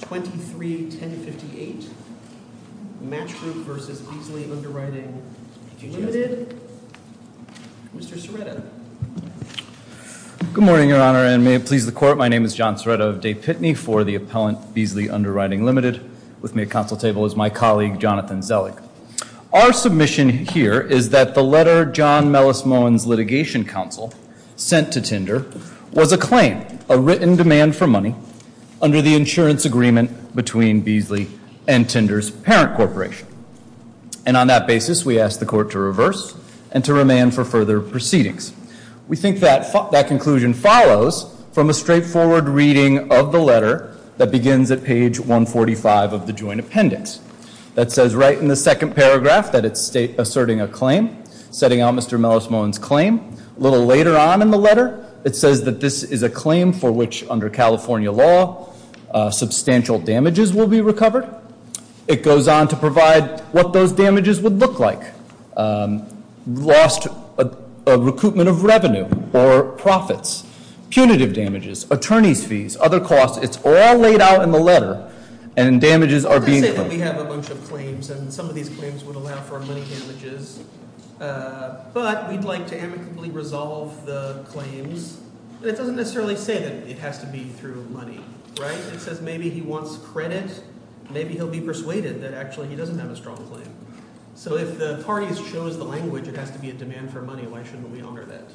231058, Match Group v. Beazley Underwriting Limited. Mr. Serretta. Good morning, Your Honor, and may it please the Court, my name is John Serretta of Day Pitney for the appellant Beazley Underwriting Limited. With me at counsel table is my colleague, Jonathan Zellig. Our submission here is that the letter John Mellis Moen's litigation counsel sent to Tinder was a claim, a written demand for money under the insurance agreement between Beazley and Tinder's parent corporation. And on that basis, we ask the Court to reverse and to remand for further proceedings. We think that conclusion follows from a straightforward reading of the letter that begins at page 145 of the joint appendix. That says right in the second paragraph that it's asserting a claim, setting out Mr. Mellis Moen's claim. A little later on in the letter, it says that this is a claim for which, under California law, substantial damages will be recovered. It goes on to provide what those damages would look like. Lost recoupment of revenue or profits, punitive damages, attorney's fees, other costs. It's all laid out in the letter and damages are being- Let's say that we have a bunch of claims and some of these claims would allow for money damages, but we'd like to amicably resolve the claims. It doesn't necessarily say that it has to be through money, right? It says maybe he wants credit, maybe he'll be persuaded that actually he doesn't have a strong claim. So if the parties chose the language it has to be a demand for money, why shouldn't we honor that?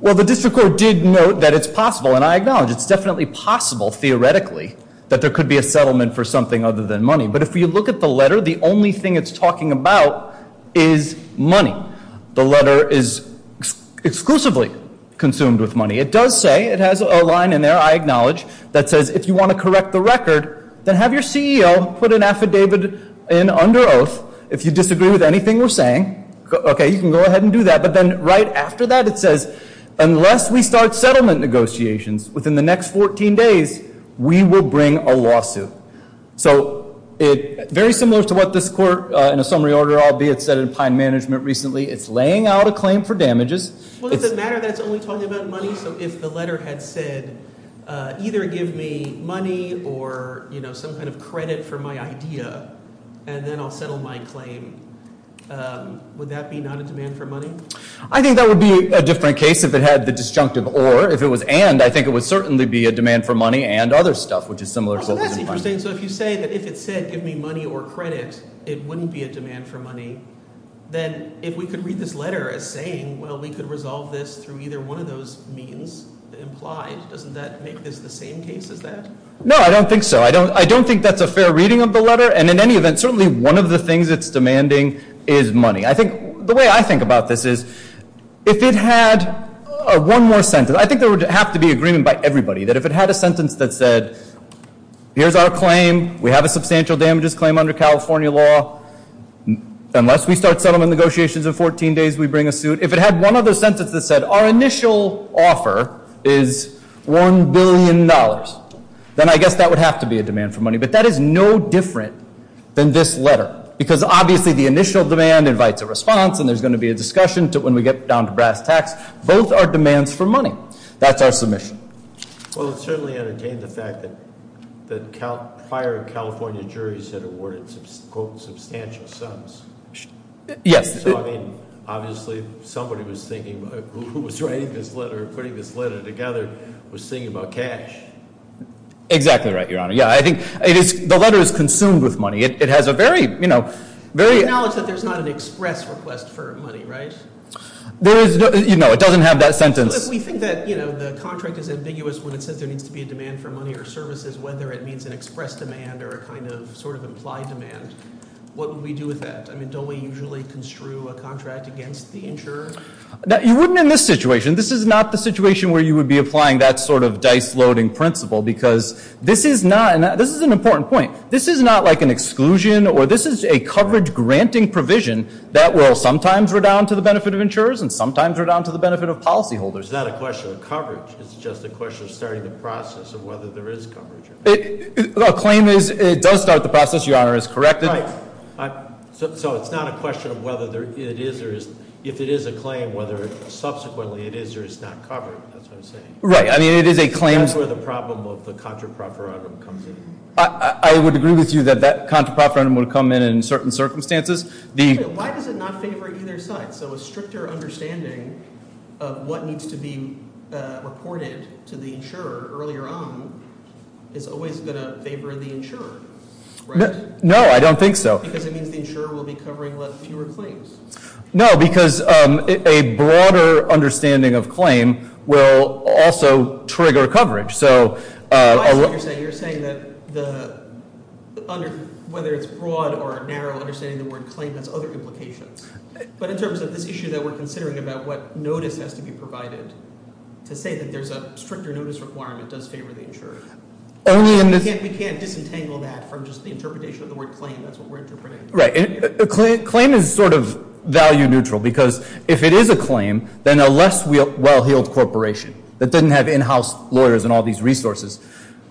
Well, the District Court did note that it's possible, and I acknowledge it's definitely possible theoretically, that there could be a settlement for something other than money, but if you look at the letter, the only thing it's talking about is money. The letter is exclusively consumed with money. It does say, it has a line in there, I acknowledge, that says if you want to correct the record, then have your CEO put an affidavit in under oath. If you disagree with anything we're saying, okay, you can go ahead and do that, but then right after that it says, unless we start settlement negotiations within the next 14 days, we will bring a lawsuit. So very similar to what this court, in a summary order, albeit set in pine management recently, it's laying out a claim for damages. Well, does it matter that it's only talking about money? So if the letter had said either give me money or some kind of credit for my idea, and then I'll settle my claim, would that be not a demand for money? I think that would be a different case if it had the disjunctive or. If it was and, I think it would certainly be a demand for money and other stuff, which is similar to what was implied. So if you say that if it said give me money or credit, it wouldn't be a demand for money, then if we could read this letter as saying, well, we could resolve this through either one of those means implied, doesn't that make this the same case as that? No, I don't think so. I don't think that's a fair reading of the letter, and in any event, certainly one of the things it's demanding is money. I think the way I think about this is if it had one more sentence, I think there would have to be agreement by everybody that if it had a sentence that said, here's our claim, we have a substantial damages claim under California law, unless we start settlement negotiations in 14 days, we bring a suit. If it had one other sentence that said our initial offer is $1 billion, then I guess that would have to be a demand for money. But that is no different than this letter, because obviously the initial demand invites a response, and there's going to be a discussion when we get down to brass tacks. Both are demands for money. That's our submission. Well, it certainly entertained the fact that prior California juries had awarded, quote, substantial sums. Yes. So, I mean, obviously somebody was thinking, who was writing this letter, putting this letter together, was thinking about cash. Exactly right, Your Honor. Yeah, I think it is – the letter is consumed with money. It has a very, you know – We acknowledge that there's not an express request for money, right? There is – no, it doesn't have that sentence. We think that the contract is ambiguous when it says there needs to be a demand for money or services, whether it means an express demand or a kind of sort of implied demand. What would we do with that? I mean, don't we usually construe a contract against the insurer? You wouldn't in this situation. This is not the situation where you would be applying that sort of dice-loading principle, because this is not – and this is an important point – this is not like an exclusion, or this is a coverage-granting provision that will sometimes redound to the benefit of insurers and sometimes redound to the benefit of policyholders. It's not a question of coverage. It's just a question of starting the process of whether there is coverage. The claim is it does start the process, Your Honor, is correct. Right. So it's not a question of whether it is or is – if it is a claim, whether subsequently it is or is not covered. That's what I'm saying. Right. I mean, it is a claim – That's where the problem of the contra-proferendum comes in. I would agree with you that that contra-proferendum would come in in certain circumstances. Actually, why does it not favor either side? So a stricter understanding of what needs to be reported to the insurer earlier on is always going to favor the insurer, right? No, I don't think so. Because it means the insurer will be covering fewer claims. No, because a broader understanding of claim will also trigger coverage. So – That's what you're saying. You're saying that whether it's broad or narrow understanding of the word claim has other implications. But in terms of this issue that we're considering about what notice has to be provided to say that there's a stricter notice requirement does favor the insurer. We can't disentangle that from just the interpretation of the word claim. That's what we're interpreting. Right. Claim is sort of value neutral because if it is a claim, then a less well-heeled corporation that didn't have in-house lawyers and all these resources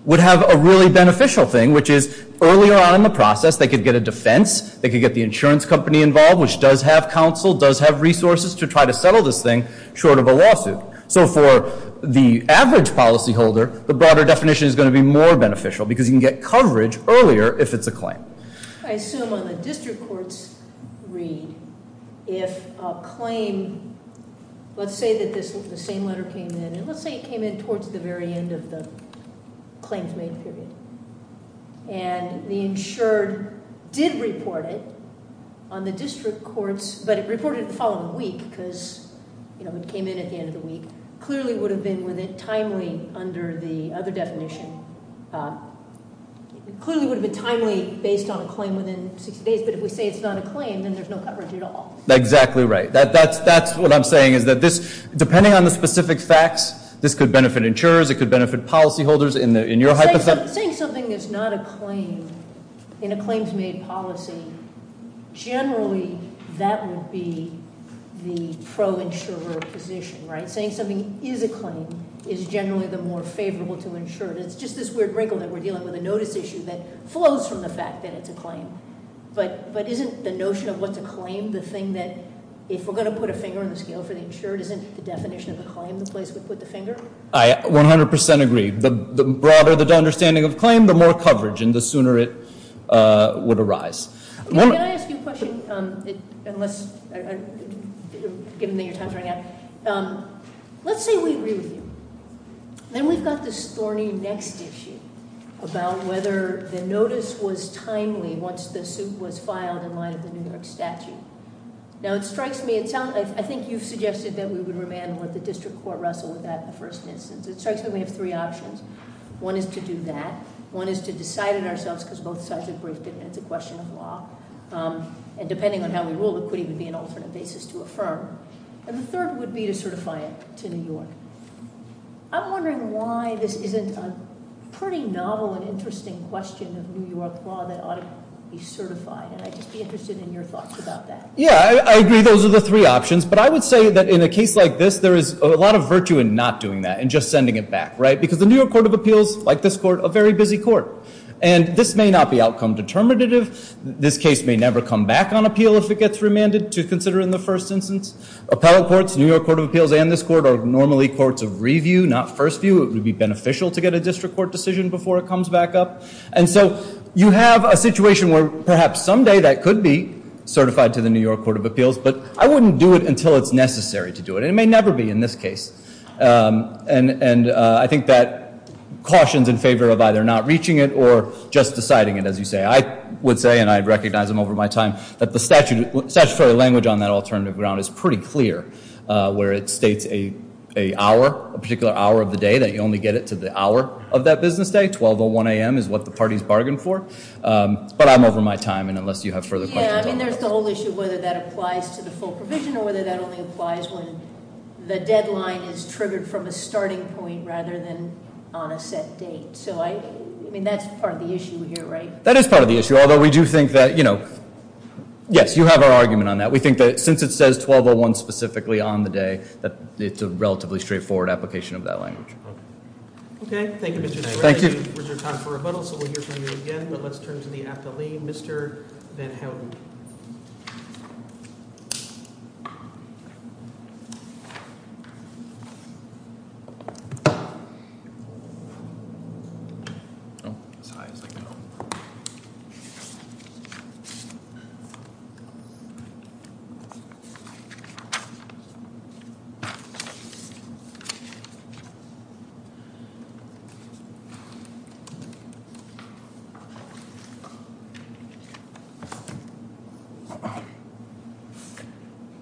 would have a really beneficial thing, which is earlier on in the process they could get a defense, they could get the insurance company involved, which does have counsel, does have resources to try to settle this thing short of a lawsuit. So for the average policyholder, the broader definition is going to be more beneficial because you can get coverage earlier if it's a claim. I assume on the district court's read, if a claim – let's say that this – the same letter came in. And let's say it came in towards the very end of the claims made period. And the insured did report it on the district courts. But it reported it the following week because it came in at the end of the week. Clearly, it would have been timely under the other definition. It clearly would have been timely based on a claim within 60 days. But if we say it's not a claim, then there's no coverage at all. Exactly right. That's what I'm saying is that this, depending on the specific facts, this could benefit insurers. It could benefit policyholders in your hypothesis. But saying something is not a claim in a claims made policy, generally that would be the pro-insurer position, right? Saying something is a claim is generally the more favorable to insured. It's just this weird wrinkle that we're dealing with, a notice issue that flows from the fact that it's a claim. But isn't the notion of what's a claim the thing that if we're going to put a finger on the scale for the insured, isn't the definition of a claim the place we put the finger? I 100% agree. The broader the understanding of claim, the more coverage and the sooner it would arise. Can I ask you a question, given that your time's running out? Let's say we review. Then we've got this thorny next issue about whether the notice was timely once the suit was filed in line with the New York statute. Now it strikes me, I think you've suggested that we would remand and let the district court wrestle with that in the first instance. It strikes me we have three options. One is to do that. One is to decide it ourselves because both sides are briefed and it's a question of law. And depending on how we rule, it could even be an alternate basis to affirm. And the third would be to certify it to New York. I'm wondering why this isn't a pretty novel and interesting question of New York law that ought to be certified. And I'd just be interested in your thoughts about that. Yeah, I agree. Those are the three options. But I would say that in a case like this, there is a lot of virtue in not doing that and just sending it back. Because the New York Court of Appeals, like this court, a very busy court. And this may not be outcome determinative. This case may never come back on appeal if it gets remanded to consider in the first instance. Appellate courts, New York Court of Appeals and this court are normally courts of review, not first view. It would be beneficial to get a district court decision before it comes back up. And so you have a situation where perhaps someday that could be certified to the New York Court of Appeals. But I wouldn't do it until it's necessary to do it. And it may never be in this case. And I think that cautions in favor of either not reaching it or just deciding it, as you say. I would say, and I'd recognize them over my time, that the statutory language on that alternative ground is pretty clear. Where it states a particular hour of the day, that you only get it to the hour of that business day. 12.01 a.m. is what the parties bargained for. But I'm over my time. And unless you have further questions. Yeah, I mean there's the whole issue whether that applies to the full provision or whether that only applies when the deadline is triggered from a starting point rather than on a set date. So I, I mean that's part of the issue here, right? That is part of the issue. Although we do think that, you know, yes, you have our argument on that. We think that since it says 12.01 specifically on the day, that it's a relatively straightforward application of that language. Okay. Thank you, Mr. Naylor. Thank you. Time for rebuttal. So we'll hear from you again. But let's turn to the athlete. Mr. That held.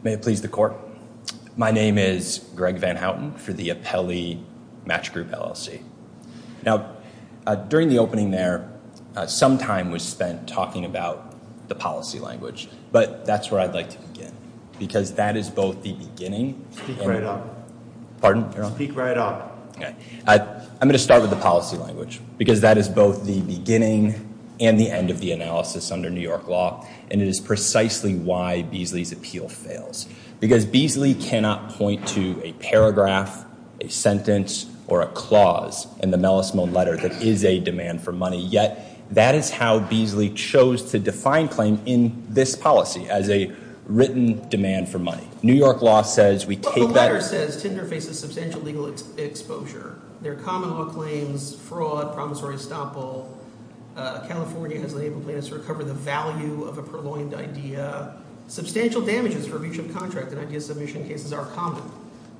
May it please the court. My name is Greg Van Houten for the Appellee Match Group LLC. Now, during the opening there, some time was spent talking about the policy language. But that's where I'd like to begin. Because that is both the beginning. Speak right up. Pardon? Speak right up. Okay. I'm going to start with the policy language. Because that is both the beginning and the end of the analysis under New York law. And it is precisely why Beasley's appeal fails. Because Beasley cannot point to a paragraph, a sentence, or a clause in the melismone letter that is a demand for money. Yet, that is how Beasley chose to define claim in this policy as a written demand for money. New York law says we take that. The letter says Tinder faces substantial legal exposure. There are common law claims, fraud, promissory estoppel. California has enabled plaintiffs to recover the value of a purloined idea. Substantial damages for breach of contract and idea submission cases are common.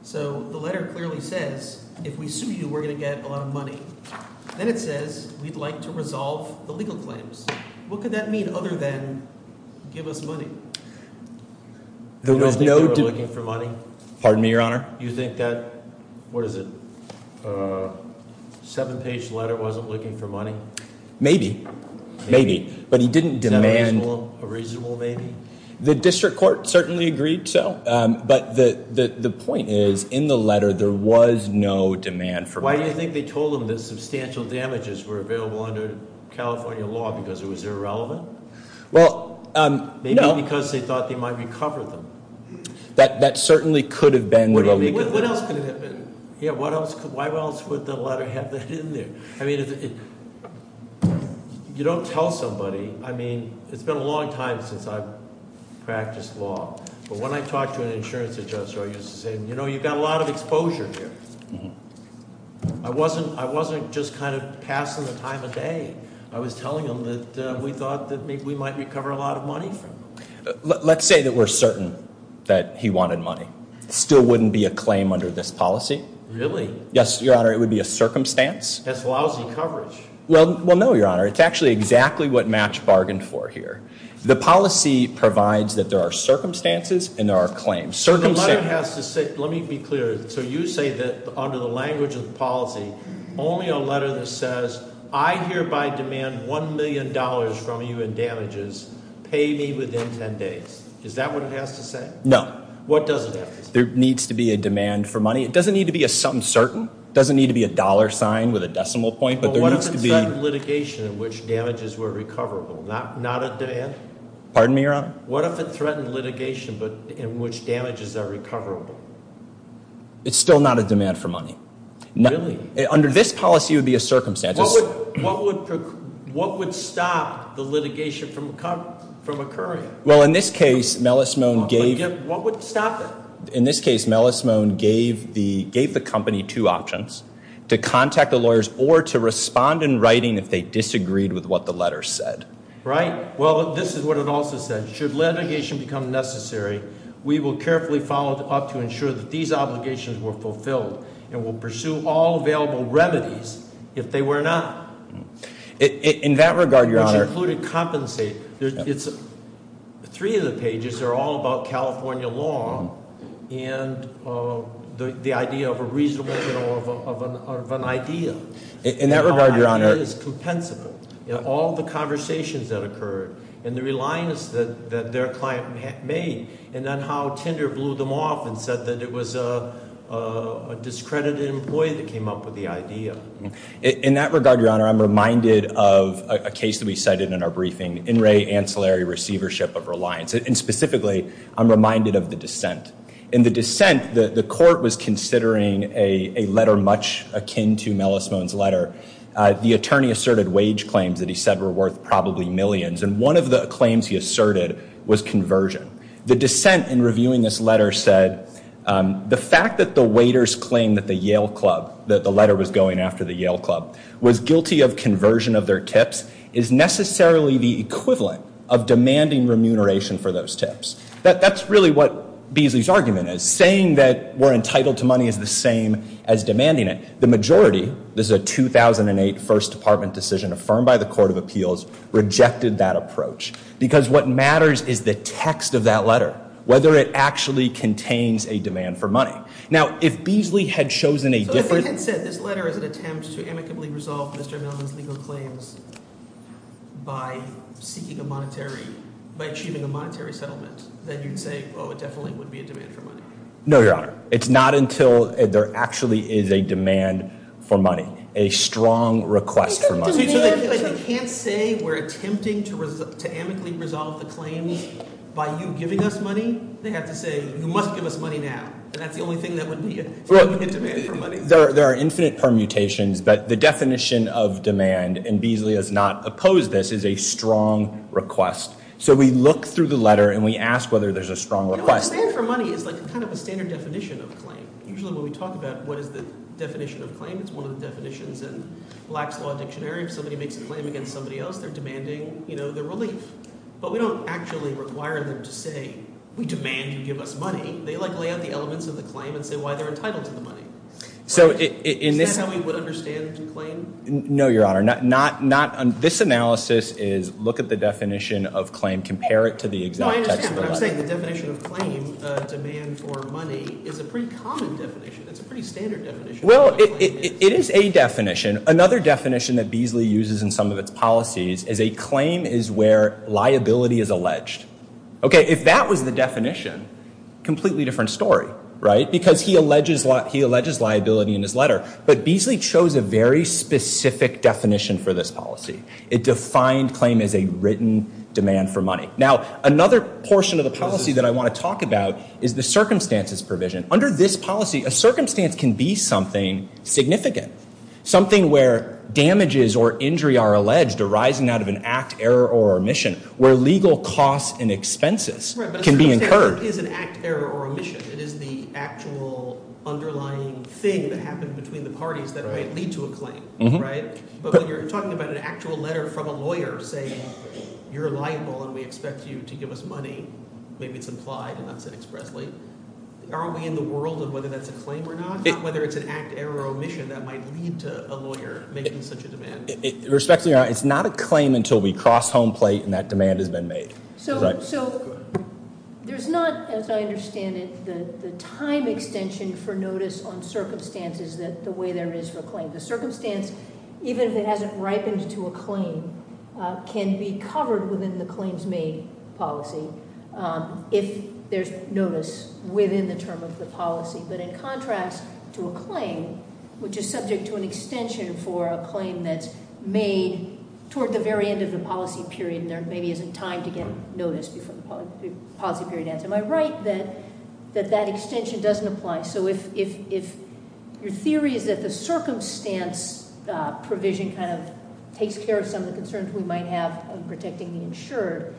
So the letter clearly says if we sue you, we're going to get a lot of money. Then it says we'd like to resolve the legal claims. What could that mean other than give us money? You don't think they were looking for money? Pardon me, your honor? You think that, what is it, seven page letter wasn't looking for money? Maybe. Maybe. But he didn't demand. Is that a reasonable maybe? The district court certainly agreed so. But the point is in the letter there was no demand for money. Why do you think they told him that substantial damages were available under California law because it was irrelevant? Well, no. Maybe because they thought they might recover them. That certainly could have been. What else could it have been? Why else would the letter have that in there? I mean, you don't tell somebody. I mean, it's been a long time since I've practiced law. But when I talked to an insurance adjuster, I used to say, you know, you've got a lot of exposure here. I wasn't just kind of passing the time of day. I was telling him that we thought that maybe we might recover a lot of money from him. Let's say that we're certain that he wanted money. Still wouldn't be a claim under this policy. Really? Yes, your honor. It would be a circumstance. That's lousy coverage. Well, no, your honor. It's actually exactly what Match bargained for here. The policy provides that there are circumstances and there are claims. Let me be clear. So you say that under the language of the policy, only a letter that says, I hereby demand $1 million from you in damages. Pay me within 10 days. Is that what it has to say? No. What does it have to say? There needs to be a demand for money. It doesn't need to be something certain. It doesn't need to be a dollar sign with a decimal point. But what if it threatened litigation in which damages were recoverable? Not a demand? Pardon me, your honor? What if it threatened litigation in which damages are recoverable? It's still not a demand for money. Really? Under this policy, it would be a circumstance. What would stop the litigation from occurring? Well, in this case, Mellis Moan gave the company two options, to contact the lawyers or to respond in writing if they disagreed with what the letter said. Right. Well, this is what it also said. Should litigation become necessary, we will carefully follow up to ensure that these obligations were fulfilled and will pursue all available remedies if they were not. In that regard, your honor- Which included compensate. Three of the pages are all about California law and the idea of a reasonable, you know, of an idea. In that regard, your honor- In that regard, your honor, I'm reminded of a case that we cited in our briefing, In Re Ancillary Receivership of Reliance. And specifically, I'm reminded of the dissent. In the dissent, the court was considering a letter much akin to Mellis Moan's letter. The attorney asserted wage claims that he said were worth probably millions. And one of the claims he asserted was conversion. The dissent in reviewing this letter said, the fact that the waiters claimed that the Yale Club, that the letter was going after the Yale Club, was guilty of conversion of their tips, is necessarily the equivalent of demanding remuneration for those tips. That's really what Beasley's argument is. Saying that we're entitled to money is the same as demanding it. The majority, this is a 2008 First Department decision affirmed by the Court of Appeals, rejected that approach. Because what matters is the text of that letter. Whether it actually contains a demand for money. Now, if Beasley had chosen a different- So if I had said this letter is an attempt to amicably resolve Mr. Mellon's legal claims by seeking a monetary, by achieving a monetary settlement, then you'd say, oh, it definitely would be a demand for money. No, your honor. It's not until there actually is a demand for money. A strong request for money. So they can't say we're attempting to amicably resolve the claims by you giving us money? They have to say, you must give us money now. And that's the only thing that would be a demand for money. There are infinite permutations, but the definition of demand, and Beasley has not opposed this, is a strong request. So we look through the letter and we ask whether there's a strong request. A demand for money is kind of a standard definition of claim. Usually when we talk about what is the definition of claim, it's one of the definitions in Black's Law Dictionary. If somebody makes a claim against somebody else, they're demanding their relief. But we don't actually require them to say, we demand you give us money. They lay out the elements of the claim and say why they're entitled to the money. Is that how we would understand the claim? No, your honor. This analysis is look at the definition of claim, compare it to the exact text of the letter. I understand, but I'm saying the definition of claim, demand for money, is a pretty common definition. It's a pretty standard definition. Well, it is a definition. Another definition that Beasley uses in some of its policies is a claim is where liability is alleged. Okay, if that was the definition, completely different story, right? Because he alleges liability in his letter. But Beasley chose a very specific definition for this policy. It defined claim as a written demand for money. Now, another portion of the policy that I want to talk about is the circumstances provision. Under this policy, a circumstance can be something significant, something where damages or injury are alleged arising out of an act, error, or omission, where legal costs and expenses can be incurred. But a circumstance is an act, error, or omission. It is the actual underlying thing that happened between the parties that might lead to a claim, right? But when you're talking about an actual letter from a lawyer saying you're liable and we expect you to give us money, maybe it's implied and not said expressly. Are we in the world of whether that's a claim or not? Whether it's an act, error, or omission that might lead to a lawyer making such a demand? Respectfully, Your Honor, it's not a claim until we cross home plate and that demand has been made. So there's not, as I understand it, the time extension for notice on circumstances the way there is for a claim. The circumstance, even if it hasn't ripened to a claim, can be covered within the claims made policy if there's notice within the term of the policy. But in contrast to a claim, which is subject to an extension for a claim that's made toward the very end of the policy period and there maybe isn't time to get notice before the policy period ends. Am I right that that extension doesn't apply? So if your theory is that the circumstance provision kind of takes care of some of the concerns we might have in protecting the insured,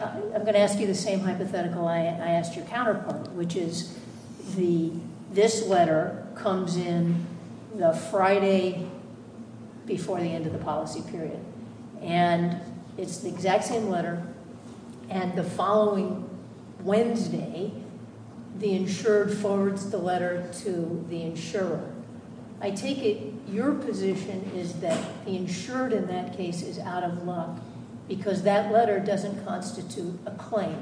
I'm going to ask you the same hypothetical I asked your counterpart, which is this letter comes in the Friday before the end of the policy period. And it's the exact same letter. And the following Wednesday, the insured forwards the letter to the insurer. I take it your position is that the insured in that case is out of luck because that letter doesn't constitute a claim.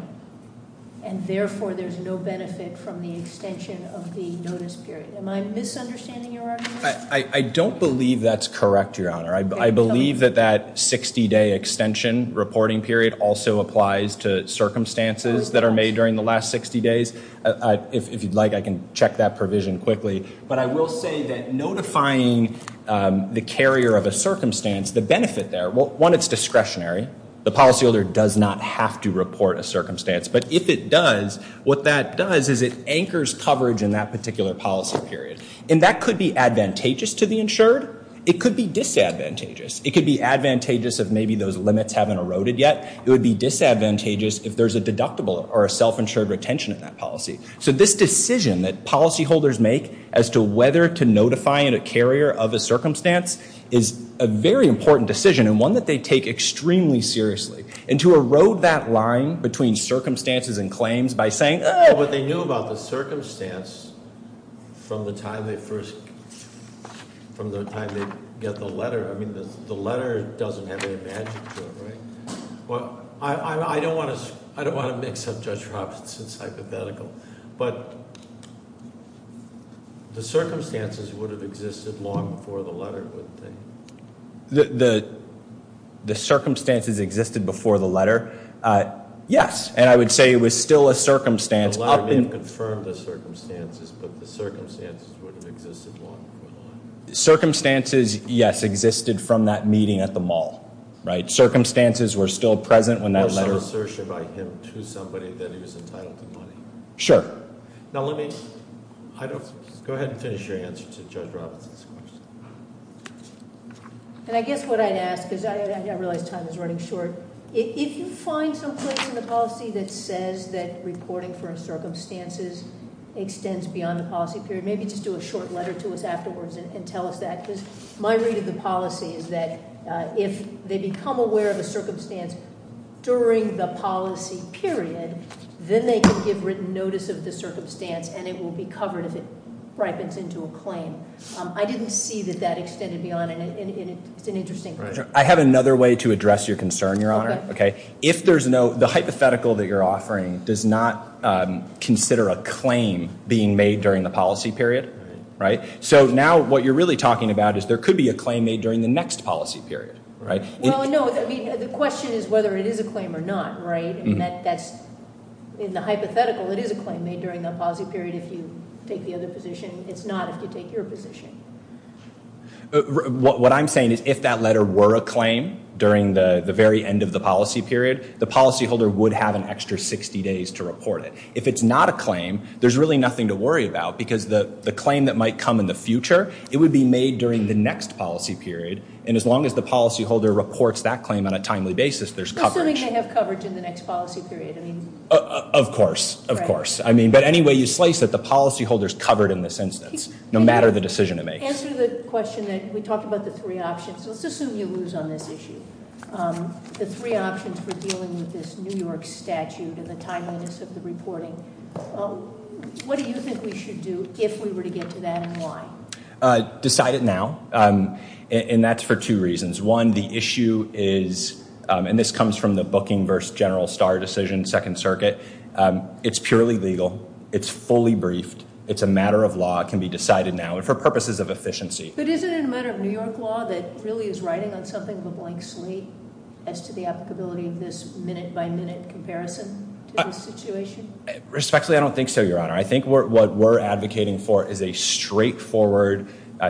And therefore, there's no benefit from the extension of the notice period. Am I misunderstanding your argument? I don't believe that's correct, Your Honor. I believe that that 60-day extension reporting period also applies to circumstances that are made during the last 60 days. If you'd like, I can check that provision quickly. But I will say that notifying the carrier of a circumstance, the benefit there, one, it's discretionary. The policyholder does not have to report a circumstance. But if it does, what that does is it anchors coverage in that particular policy period. And that could be advantageous to the insured. It could be disadvantageous. It could be advantageous if maybe those limits haven't eroded yet. It would be disadvantageous if there's a deductible or a self-insured retention in that policy. So this decision that policyholders make as to whether to notify a carrier of a circumstance is a very important decision and one that they take extremely seriously. And to erode that line between circumstances and claims by saying, oh. But they knew about the circumstance from the time they first, from the time they get the letter. I mean, the letter doesn't have any advantage to it, right? Well, I don't want to mix up Judge Robinson's hypothetical. But the circumstances would have existed long before the letter, wouldn't they? The circumstances existed before the letter? Yes. And I would say it was still a circumstance. The letter may have confirmed the circumstances, but the circumstances would have existed long before the letter. Circumstances, yes, existed from that meeting at the mall, right? Circumstances were still present when that letter. It was an assertion by him to somebody that he was entitled to money. Sure. Now, let me go ahead and finish your answer to Judge Robinson's question. And I guess what I'd ask, because I realize time is running short. If you find someplace in the policy that says that reporting for circumstances extends beyond the policy period, maybe just do a short letter to us afterwards and tell us that. Because my read of the policy is that if they become aware of a circumstance during the policy period, then they can give written notice of the circumstance, and it will be covered if it ripens into a claim. I didn't see that that extended beyond. And it's an interesting question. I have another way to address your concern, Your Honor. Okay. If there's no—the hypothetical that you're offering does not consider a claim being made during the policy period, right? So now what you're really talking about is there could be a claim made during the next policy period, right? Well, no. The question is whether it is a claim or not, right? And that's—in the hypothetical, it is a claim made during the policy period if you take the other position. It's not if you take your position. What I'm saying is if that letter were a claim during the very end of the policy period, the policyholder would have an extra 60 days to report it. If it's not a claim, there's really nothing to worry about because the claim that might come in the future, it would be made during the next policy period. And as long as the policyholder reports that claim on a timely basis, there's coverage. Assuming they have coverage in the next policy period, I mean— Of course. Of course. But any way you slice it, the policyholder's covered in this instance, no matter the decision it makes. Answer the question that we talked about the three options. Let's assume you lose on this issue. The three options for dealing with this New York statute and the timeliness of the reporting. What do you think we should do if we were to get to that and why? Decide it now. And that's for two reasons. One, the issue is—and this comes from the Booking v. General Starr decision, Second Circuit. It's purely legal. It's fully briefed. It's a matter of law. It can be decided now and for purposes of efficiency. But isn't it a matter of New York law that really is writing on something of a blank slate as to the applicability of this minute-by-minute comparison to the situation? Respectfully, I don't think so, Your Honor. I think what we're advocating for is a straightforward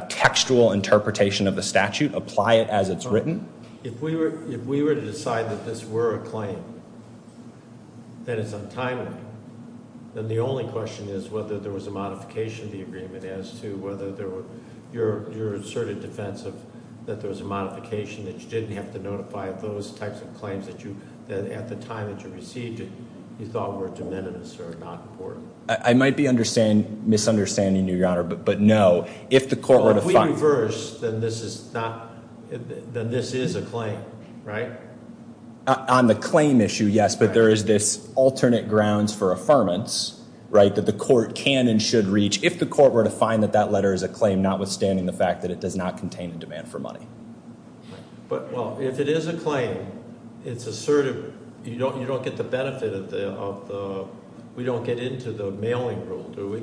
textual interpretation of the statute. Apply it as it's written. If we were to decide that this were a claim, that it's untimely, then the only question is whether there was a modification of the agreement as to whether there were—your asserted defense of that there was a modification, that you didn't have to notify of those types of claims that at the time that you received it you thought were de minimis or not important. I might be misunderstanding you, Your Honor, but no. If the court were to find— Well, if we reverse, then this is not—then this is a claim, right? On the claim issue, yes, but there is this alternate grounds for affirmance that the court can and should reach if the court were to find that that letter is a claim notwithstanding the fact that it does not contain a demand for money. But, well, if it is a claim, it's assertive. You don't get the benefit of the—we don't get into the mailing rule, do we?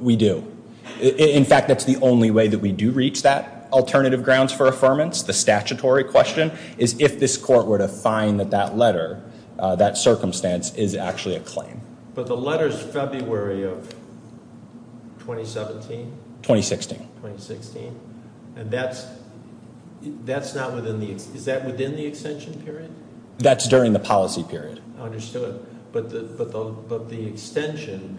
We do. In fact, that's the only way that we do reach that alternative grounds for affirmance. The statutory question is if this court were to find that that letter, that circumstance, is actually a claim. But the letter is February of 2017? 2016. 2016. And that's not within the—is that within the extension period? That's during the policy period. I understood. But the extension,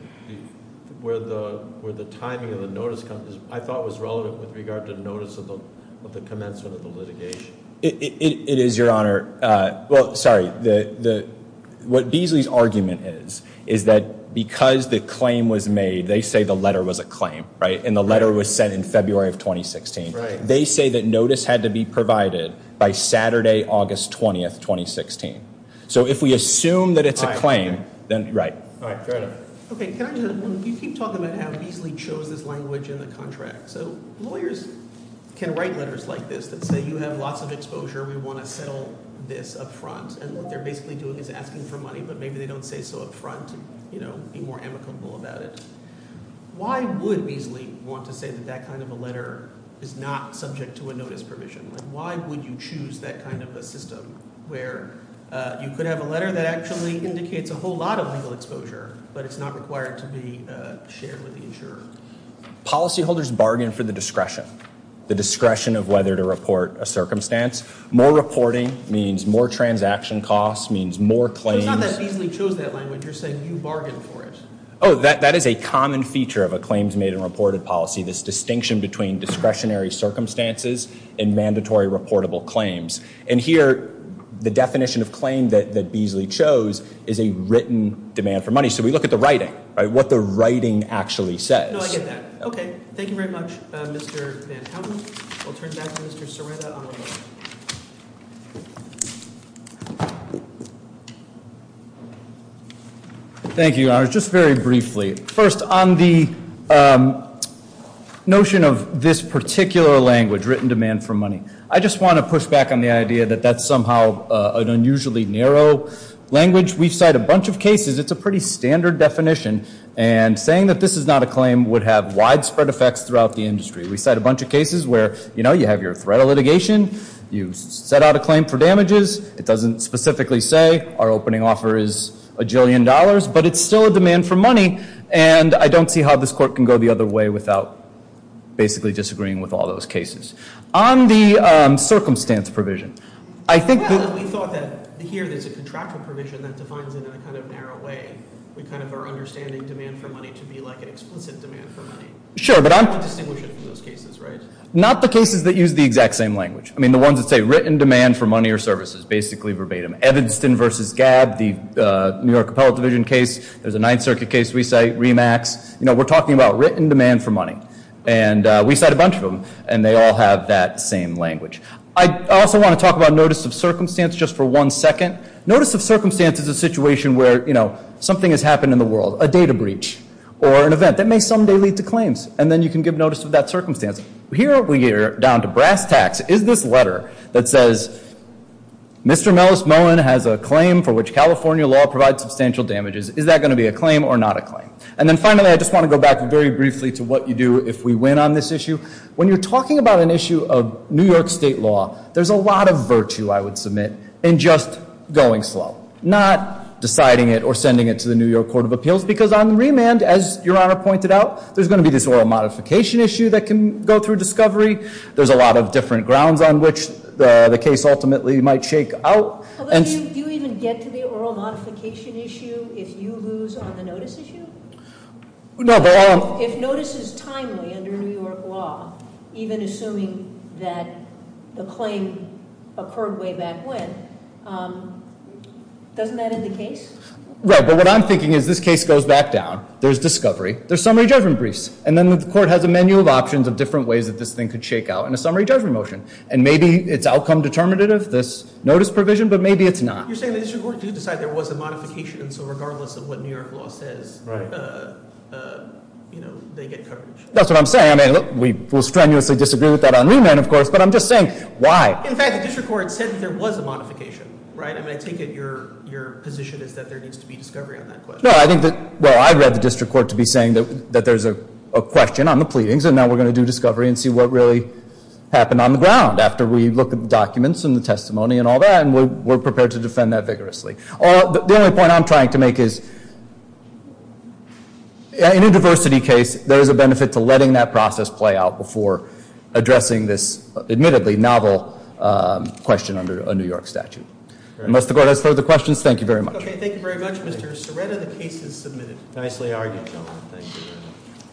where the timing of the notice comes, I thought was relevant with regard to the notice of the commencement of the litigation. It is, Your Honor. Well, sorry. What Beasley's argument is is that because the claim was made, they say the letter was a claim, right? And the letter was sent in February of 2016. They say that notice had to be provided by Saturday, August 20, 2016. So if we assume that it's a claim, then right. All right. Fair enough. Okay. Can I just—you keep talking about how Beasley chose this language in the contract. So lawyers can write letters like this that say you have lots of exposure. We want to settle this up front. And what they're basically doing is asking for money, but maybe they don't say so up front and be more amicable about it. Why would Beasley want to say that that kind of a letter is not subject to a notice provision? Why would you choose that kind of a system where you could have a letter that actually indicates a whole lot of legal exposure, but it's not required to be shared with the insurer? Policyholders bargain for the discretion, the discretion of whether to report a circumstance. More reporting means more transaction costs, means more claims. But it's not that Beasley chose that language. You're saying you bargained for it. Oh, that is a common feature of a claims-made-and-reported policy, this distinction between discretionary circumstances and mandatory reportable claims. And here, the definition of claim that Beasley chose is a written demand for money. So we look at the writing, right, what the writing actually says. No, I get that. Okay. Thank you very much, Mr. Van Houten. I'll turn it back to Mr. Sirota. Thank you. Thank you, Your Honors. Just very briefly, first, on the notion of this particular language, written demand for money, I just want to push back on the idea that that's somehow an unusually narrow language. We cite a bunch of cases. It's a pretty standard definition. And saying that this is not a claim would have widespread effects throughout the industry. We cite a bunch of cases where, you know, you have your threat of litigation. You set out a claim for damages. It doesn't specifically say our opening offer is a jillion dollars. But it's still a demand for money. And I don't see how this court can go the other way without basically disagreeing with all those cases. On the circumstance provision, I think that we thought that here there's a contractual provision that defines it in a kind of narrow way. We kind of are understanding demand for money to be like an explicit demand for money. Sure, but I'm not distinguishing those cases, right? Not the cases that use the exact same language. I mean, the ones that say written demand for money or services, basically verbatim. Evanston versus Gabb, the New York Appellate Division case. There's a Ninth Circuit case we cite, REMAX. You know, we're talking about written demand for money. And we cite a bunch of them. And they all have that same language. I also want to talk about notice of circumstance just for one second. Notice of circumstance is a situation where, you know, something has happened in the world. A data breach or an event that may someday lead to claims. And then you can give notice of that circumstance. Here we are down to brass tacks. Is this letter that says Mr. Mellis Mullen has a claim for which California law provides substantial damages. Is that going to be a claim or not a claim? And then finally, I just want to go back very briefly to what you do if we win on this issue. When you're talking about an issue of New York state law, there's a lot of virtue, I would submit, in just going slow. Not deciding it or sending it to the New York Court of Appeals. Because on remand, as Your Honor pointed out, there's going to be this oral modification issue that can go through discovery. There's a lot of different grounds on which the case ultimately might shake out. Do you even get to the oral modification issue if you lose on the notice issue? No, but I... If notice is timely under New York law, even assuming that the claim occurred way back when, doesn't that end the case? Right, but what I'm thinking is this case goes back down. There's discovery. There's summary judgment briefs. And then the court has a menu of options of different ways that this thing could shake out in a summary judgment motion. And maybe it's outcome determinative, this notice provision, but maybe it's not. You're saying the district court did decide there was a modification, so regardless of what New York law says, they get coverage. That's what I'm saying. I mean, we will strenuously disagree with that on remand, of course, but I'm just saying, why? In fact, the district court said that there was a modification, right? I mean, I take it your position is that there needs to be discovery on that question. No, I think that, well, I read the district court to be saying that there's a question on the pleadings, and now we're going to do discovery and see what really happened on the ground after we look at the documents and the testimony and all that, and we're prepared to defend that vigorously. The only point I'm trying to make is in a diversity case, there is a benefit to letting that process play out before addressing this admittedly novel question under a New York statute. Unless the court has further questions, thank you very much. Okay, thank you very much. Mr. Siretta, the case is submitted. Nicely argued. Thank you.